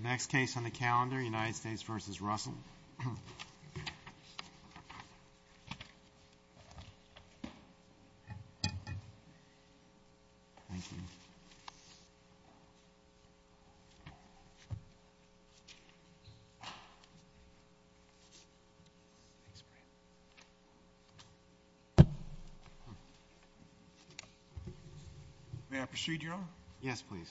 The next case on the calendar, United States v. Russell. May I proceed, Your Honor? Yes, please.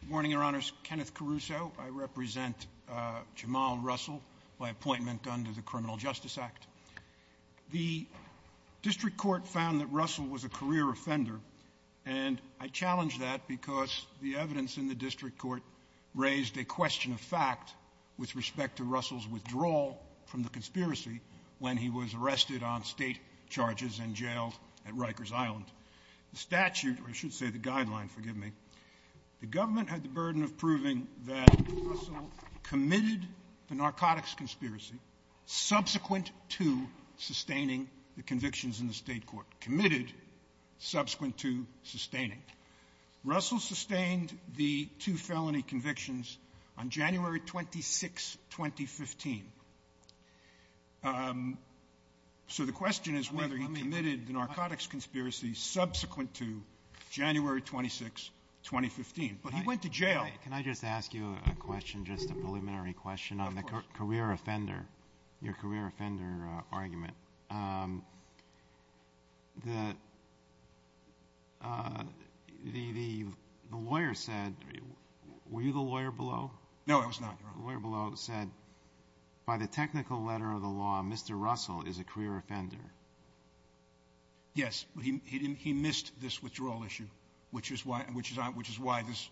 Good morning, Your Honors. Kenneth Caruso. I represent Jamal Russell by appointment under the Criminal Justice Act. The District Court found that Russell was a career offender, and I challenge that because the evidence in the District Court raised a question of fact with respect to Russell's withdrawal from the conspiracy when he was arrested on state charges and jailed at Rikers Island. The statute, or I should say the guideline, forgive me, the government had the burden of proving that Russell committed the narcotics conspiracy subsequent to sustaining the convictions in the State Court. Committed subsequent to sustaining. Russell sustained the two felony convictions on January 26, 2015. So the question is whether he committed the narcotics conspiracy subsequent to January 26, 2015. But he went to jail. Can I just ask you a question, just a preliminary question on the career offender, your career offender argument? The lawyer said, were you the lawyer below? No, I was not, Your Honor. The lawyer below said, by the technical letter of the law, Mr. Russell is a career offender. Yes, he missed this withdrawal issue, which is why this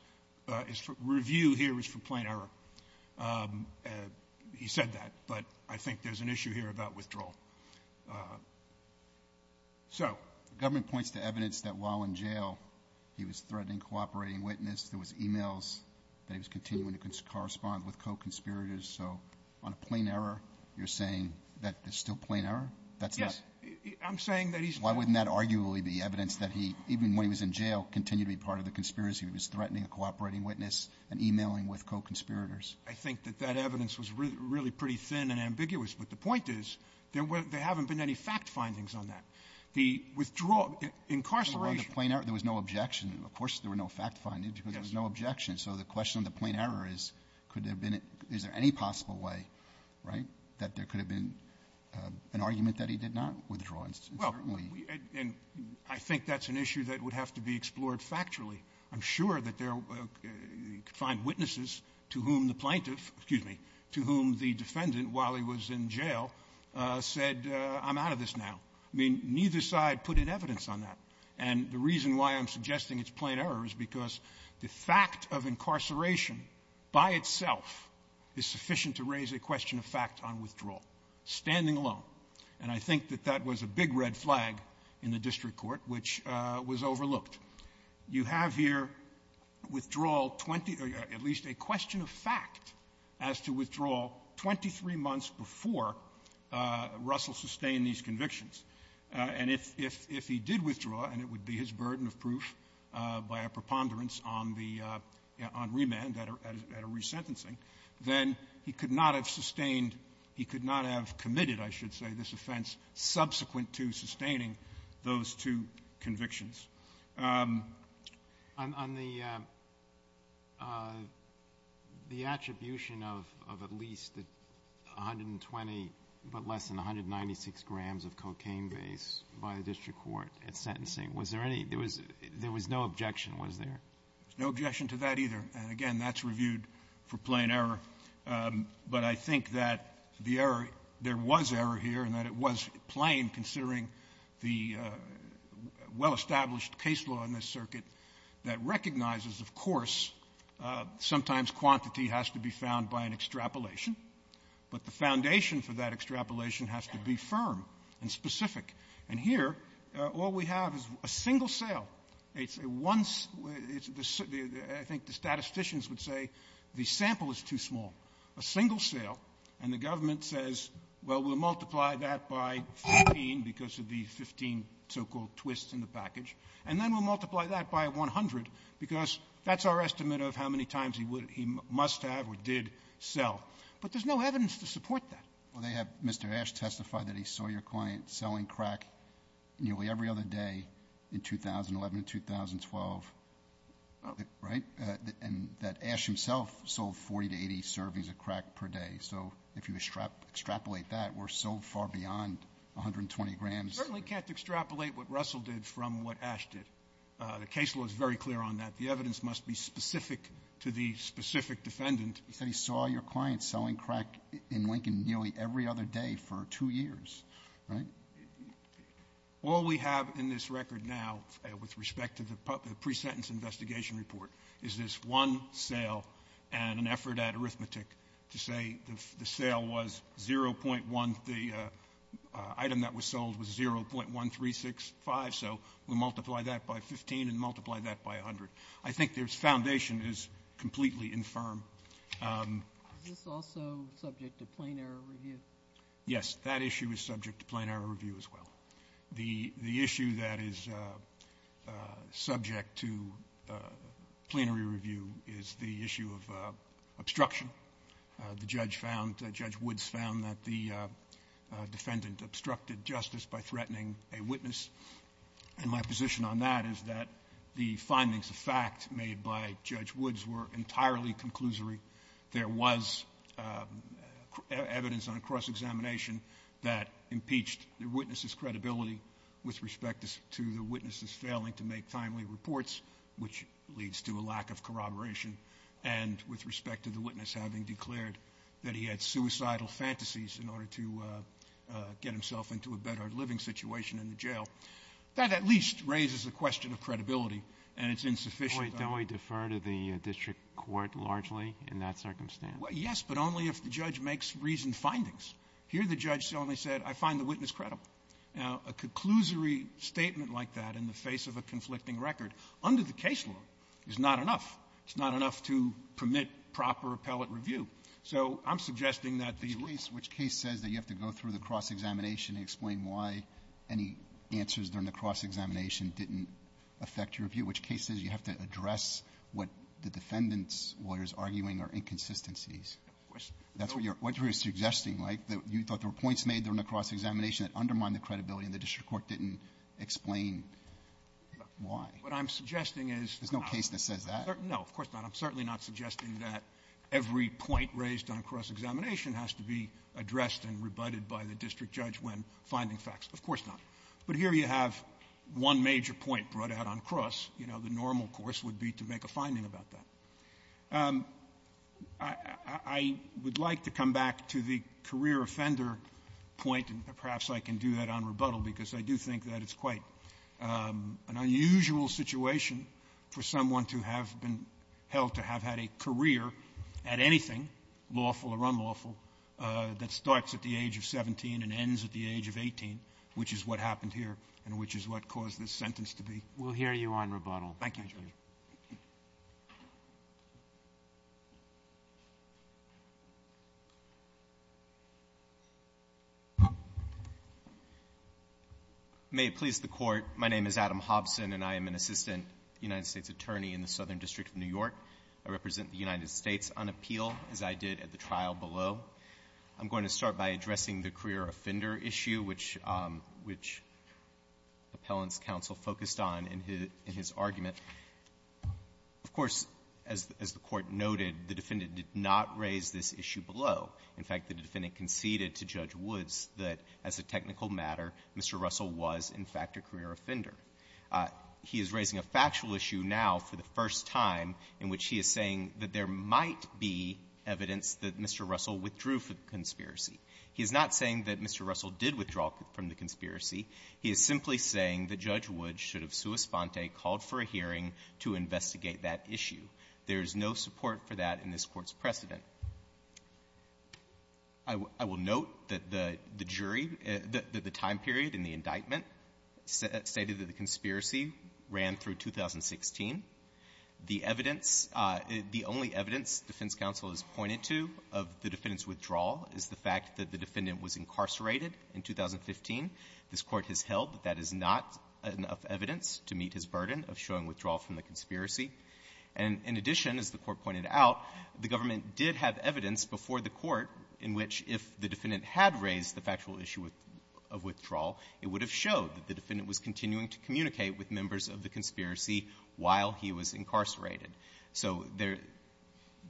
review here is for plain error. He said that, but I think there's an issue here about withdrawal. So the government points to evidence that while in jail, he was threatening cooperating witness. There was e-mails that he was continuing to correspond with co-conspirators. So on a plain error, you're saying that there's still plain error? That's this? Yes. I'm saying that he's... Why wouldn't that arguably be evidence that he, even when he was in jail, continued to be part of the conspiracy? He was threatening a cooperating witness and e-mailing with co-conspirators. I think that that evidence was really pretty thin and ambiguous. But the point is, there haven't been any fact findings on that. The withdrawal, incarceration... Yes. Because there was no objection. So the question of the plain error is, could there have been any possible way, right, that there could have been an argument that he did not withdraw? Well, and I think that's an issue that would have to be explored factually. I'm sure that there are witnesses to whom the plaintiff, excuse me, to whom the defendant while he was in jail said, I'm out of this now. I mean, neither side put in evidence on that. And the reason why I'm suggesting it's plain error is because the fact of incarceration by itself is sufficient to raise a question of fact on withdrawal, standing alone. And I think that that was a big red flag in the district court, which was overlooked. You have here withdrawal 20, or at least a question of fact as to withdrawal 23 months before Russell sustained these convictions. And if he did withdraw, and it would be his burden of proof by a preponderance on the remand, at a resentencing, then he could not have sustained, he could not have committed, I should say, this offense subsequent to sustaining those two convictions. On the attribution of at least 120, but less than 196 grams of cocaine base by the district court at sentencing, was there any, there was no objection, was there? There was no objection to that either. And again, that's reviewed for plain error. But I think that the error, there was error here, and that it was plain considering the well-established case law in this circuit that recognizes, of course, sometimes quantity has to be found by an extrapolation. But the foundation for that extrapolation has to be firm and specific. And here, all we have is a single sale. It's a one, I think the statisticians would say, the sample is too small. A single sale, and the government says, well, we'll multiply that by 14 because of the 15 so-called twists in the package, and then we'll multiply that by 100 because that's our estimate of how many times he would, he must have or did sell. But there's no evidence to support that. Well, they have, Mr. Ash testified that he saw your client selling crack nearly every other day in 2011 and 2012, right? And that Ash himself sold 40 to 80 servings of crack per day. So if you extrapolate that, we're so far beyond 120 grams. Certainly can't extrapolate what Russell did from what Ash did. The case law is very clear on that. The evidence must be specific to the specific defendant. He said he saw your client selling crack in Lincoln nearly every other day for two years, right? All we have in this record now with respect to the pre-sentence investigation report is this one sale and an effort at arithmetic to say the sale was 0.1, the item that was sold was 0.1365, so we multiply that by 15 and multiply that by 100. I think the foundation is completely infirm. Is this also subject to plain error review? Yes, that issue is subject to plain error review as well. The issue that is subject to plain error review is the issue of obstruction. The judge found, Judge Woods found that the defendant obstructed justice by threatening a witness. And my position on that is that the findings of fact made by Judge Woods were entirely conclusory. There was evidence on cross-examination that impeached the witness's credibility with respect to the witness's failing to make timely reports, which leads to a lack of corroboration. And with respect to the witness having declared that he had suicidal fantasies in order to get himself into a better living situation in the jail. That at least raises the question of credibility, and it's insufficient. Don't we defer to the district court largely in that circumstance? Yes, but only if the judge makes reasoned findings. Here the judge only said, I find the witness credible. Now, a conclusory statement like that in the face of a conflicting record, under the case law, is not enough. It's not enough to permit proper appellate review. So I'm suggesting that the- Which case says that you have to go through the cross-examination to explain why any answers during the cross-examination didn't affect your review? Which case says you have to address what the defendant's lawyer is arguing are inconsistencies? That's what you're suggesting, right? You thought there were points made during the cross-examination that undermined the credibility, and the district court didn't explain why? What I'm suggesting is- There's no case that says that. No, of course not. I'm certainly not suggesting that every point raised on cross-examination has to be addressed and rebutted by the district judge when finding facts. Of course not. But here you have one major point brought out on cross. You know, the normal course would be to make a finding about that. I would like to come back to the career offender point, and perhaps I can do that on rebuttal, because I do think that it's quite an unusual situation for someone to have been held to have had a career at anything, lawful or unlawful, that starts at the age of 17 and which is what happened here, and which is what caused this sentence to be- We'll hear you on rebuttal. Thank you, Judge. May it please the court, my name is Adam Hobson, and I am an assistant United States attorney in the Southern District of New York. I represent the United States on appeal, as I did at the trial below. I'm going to start by addressing the career offender issue, which Appellant's counsel focused on in his argument. Of course, as the Court noted, the defendant did not raise this issue below. In fact, the defendant conceded to Judge Woods that, as a technical matter, Mr. Russell was, in fact, a career offender. He is raising a factual issue now for the first time in which he is saying that there might be evidence that Mr. Russell withdrew from the conspiracy. He is not saying that Mr. Russell did withdraw from the conspiracy. He is simply saying that Judge Woods should have sua sponte, called for a hearing, to investigate that issue. There is no support for that in this Court's precedent. I will note that the jury, that the time period in the indictment stated that the conspiracy ran through 2016. The evidence, the only evidence defense counsel has pointed to of the defendant's withdrawal is the fact that the defendant was incarcerated in 2015. This Court has held that that is not enough evidence to meet his burden of showing withdrawal from the conspiracy. And in addition, as the Court pointed out, the government did have evidence before the Court in which if the defendant had raised the factual issue of withdrawal, it would have showed that the defendant was continuing to communicate with members of the conspiracy while he was incarcerated. So there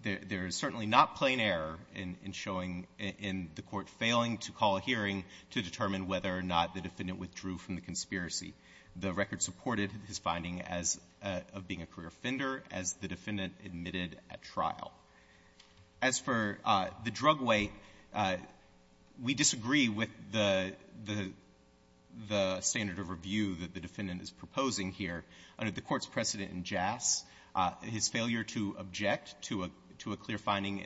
is certainly not plain error in showing, in the Court failing to call a hearing to determine whether or not the defendant withdrew from the conspiracy. The record supported his finding as being a career offender as the defendant admitted at trial. As for the drug weight, we disagree with the standard of review that the defendant is proposing here. Under the Court's precedent in Jass, his failure to object to a clear finding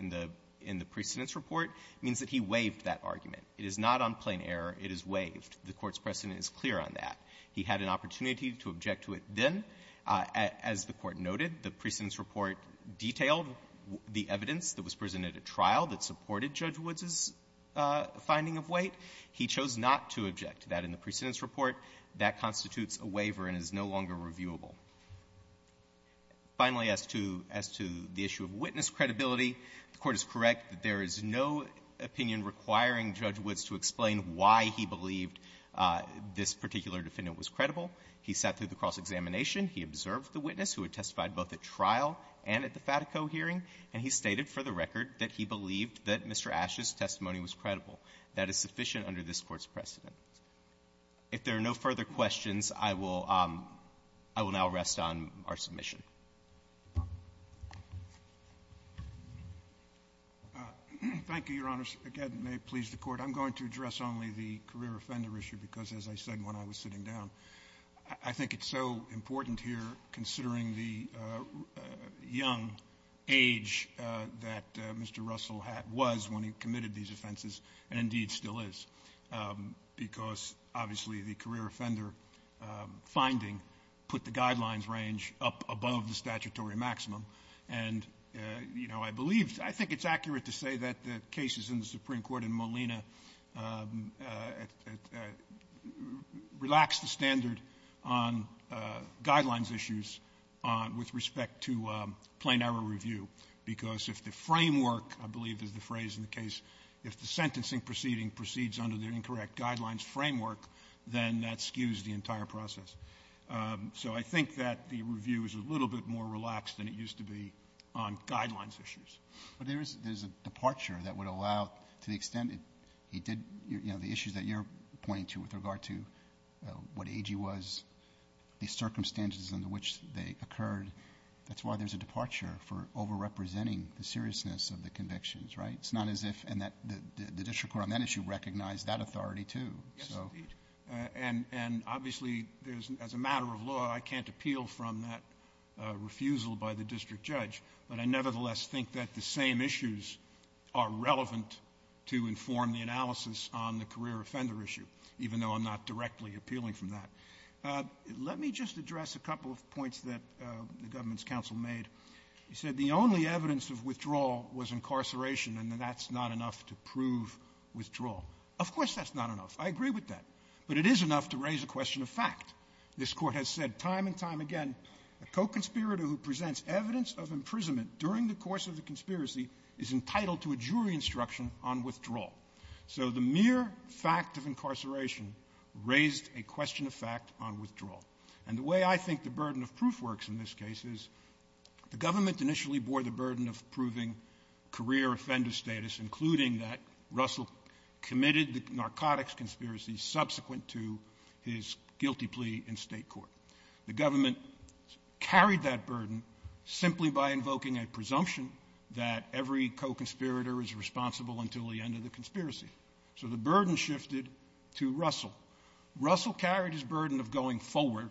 in the precedent's report means that he waived that argument. It is not on plain error. It is waived. The Court's precedent is clear on that. He had an opportunity to object to it then. As the Court noted, the precedent's report detailed the evidence that was presented at trial that supported Judge Woods's finding of weight. He chose not to object to that in the precedent's report. That constitutes a waiver and is no longer reviewable. Finally, as to the issue of witness credibility, the Court is correct that there is no opinion requiring Judge Woods to explain why he believed this particular defendant was credible. He sat through the cross-examination. He observed the witness who had testified both at trial and at the Fatico hearing, and he stated for the record that he believed that Mr. Asch's testimony was credible. That is sufficient under this Court's precedent. If there are no further questions, I will now rest on our submission. Thank you, Your Honors. Again, may it please the Court. I'm going to address only the career offender issue because, as I said when I was sitting down, I think it's so important here, considering the young age that Mr. Russell was when he committed these offenses, and indeed still is. Because, obviously, the career offender finding put the guidelines range up above the statutory maximum, and, you know, I believe, I think it's accurate to say that the cases in the Supreme Court and Molina relaxed the standard on guidelines issues with respect to plain error review. Because if the framework, I believe is the phrase in the case, if the sentencing proceeding proceeds under the incorrect guidelines framework, then that skews the entire process. So I think that the review is a little bit more relaxed than it used to be on guidelines issues. But there is a departure that would allow, to the extent it did, you know, the issues that you're pointing to with regard to what age he was, the circumstances under which they occurred, that's why there's a departure for over-representing the seriousness of the convictions, right? It's not as if, and the district court on that issue recognized that authority, too. Yes, indeed. And, obviously, there's, as a matter of law, I can't appeal from that refusal by the district judge, but I nevertheless think that the same issues are relevant to inform the analysis on the career offender issue, even though I'm not directly appealing from that. Let me just address a couple of points that the government's counsel made. He said the only evidence of withdrawal was incarceration, and that that's not enough to prove withdrawal. Of course that's not enough. I agree with that. But it is enough to raise a question of fact. This Court has said time and time again, a co-conspirator who presents evidence of imprisonment during the course of the conspiracy is entitled to a jury instruction on withdrawal. So the mere fact of incarceration raised a question of fact on withdrawal. And the way I think the burden of proof works in this case is the government initially bore the burden of proving career offender status, including that Russell committed the narcotics conspiracy subsequent to his guilty plea in state court. The government carried that burden simply by invoking a presumption that every co-conspirator is responsible until the end of the conspiracy. So the burden shifted to Russell. Russell carried his burden of going forward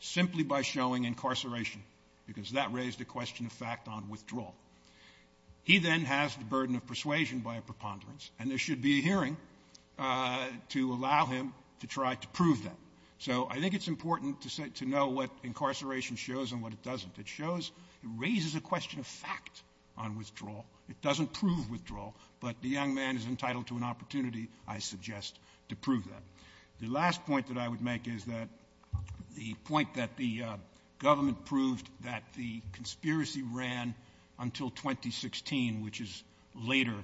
simply by showing incarceration, because that raised a question of fact on withdrawal. He then has the burden of persuasion by a preponderance, and there should be a hearing to allow him to try to prove that. So I think it's important to know what incarceration shows and what it doesn't. It shows, it raises a question of fact on withdrawal. It doesn't prove withdrawal, but the young man is entitled to an opportunity, I suggest, to prove that. The last point that I would make is that the point that the government proved that the conspiracy ran until 2016, which is later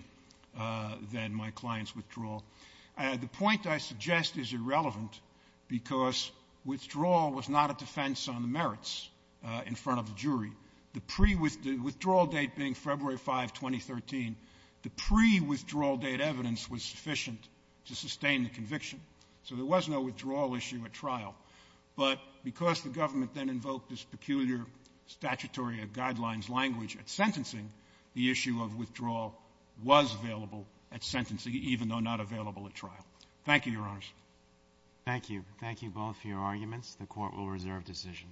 than my client's withdrawal. The point I suggest is irrelevant because withdrawal was not a defense on the merits in front of the jury. The pre-withdrawal date being February 5, 2013, the pre-withdrawal date evidence was sufficient to sustain the conviction. So there was no withdrawal issue at trial. But because the government then invoked this peculiar statutory or guidelines language at sentencing, the issue of withdrawal was available at sentencing, even though not available at trial. Thank you, Your Honors. Thank you. Thank you both for your arguments. The Court will reserve decision.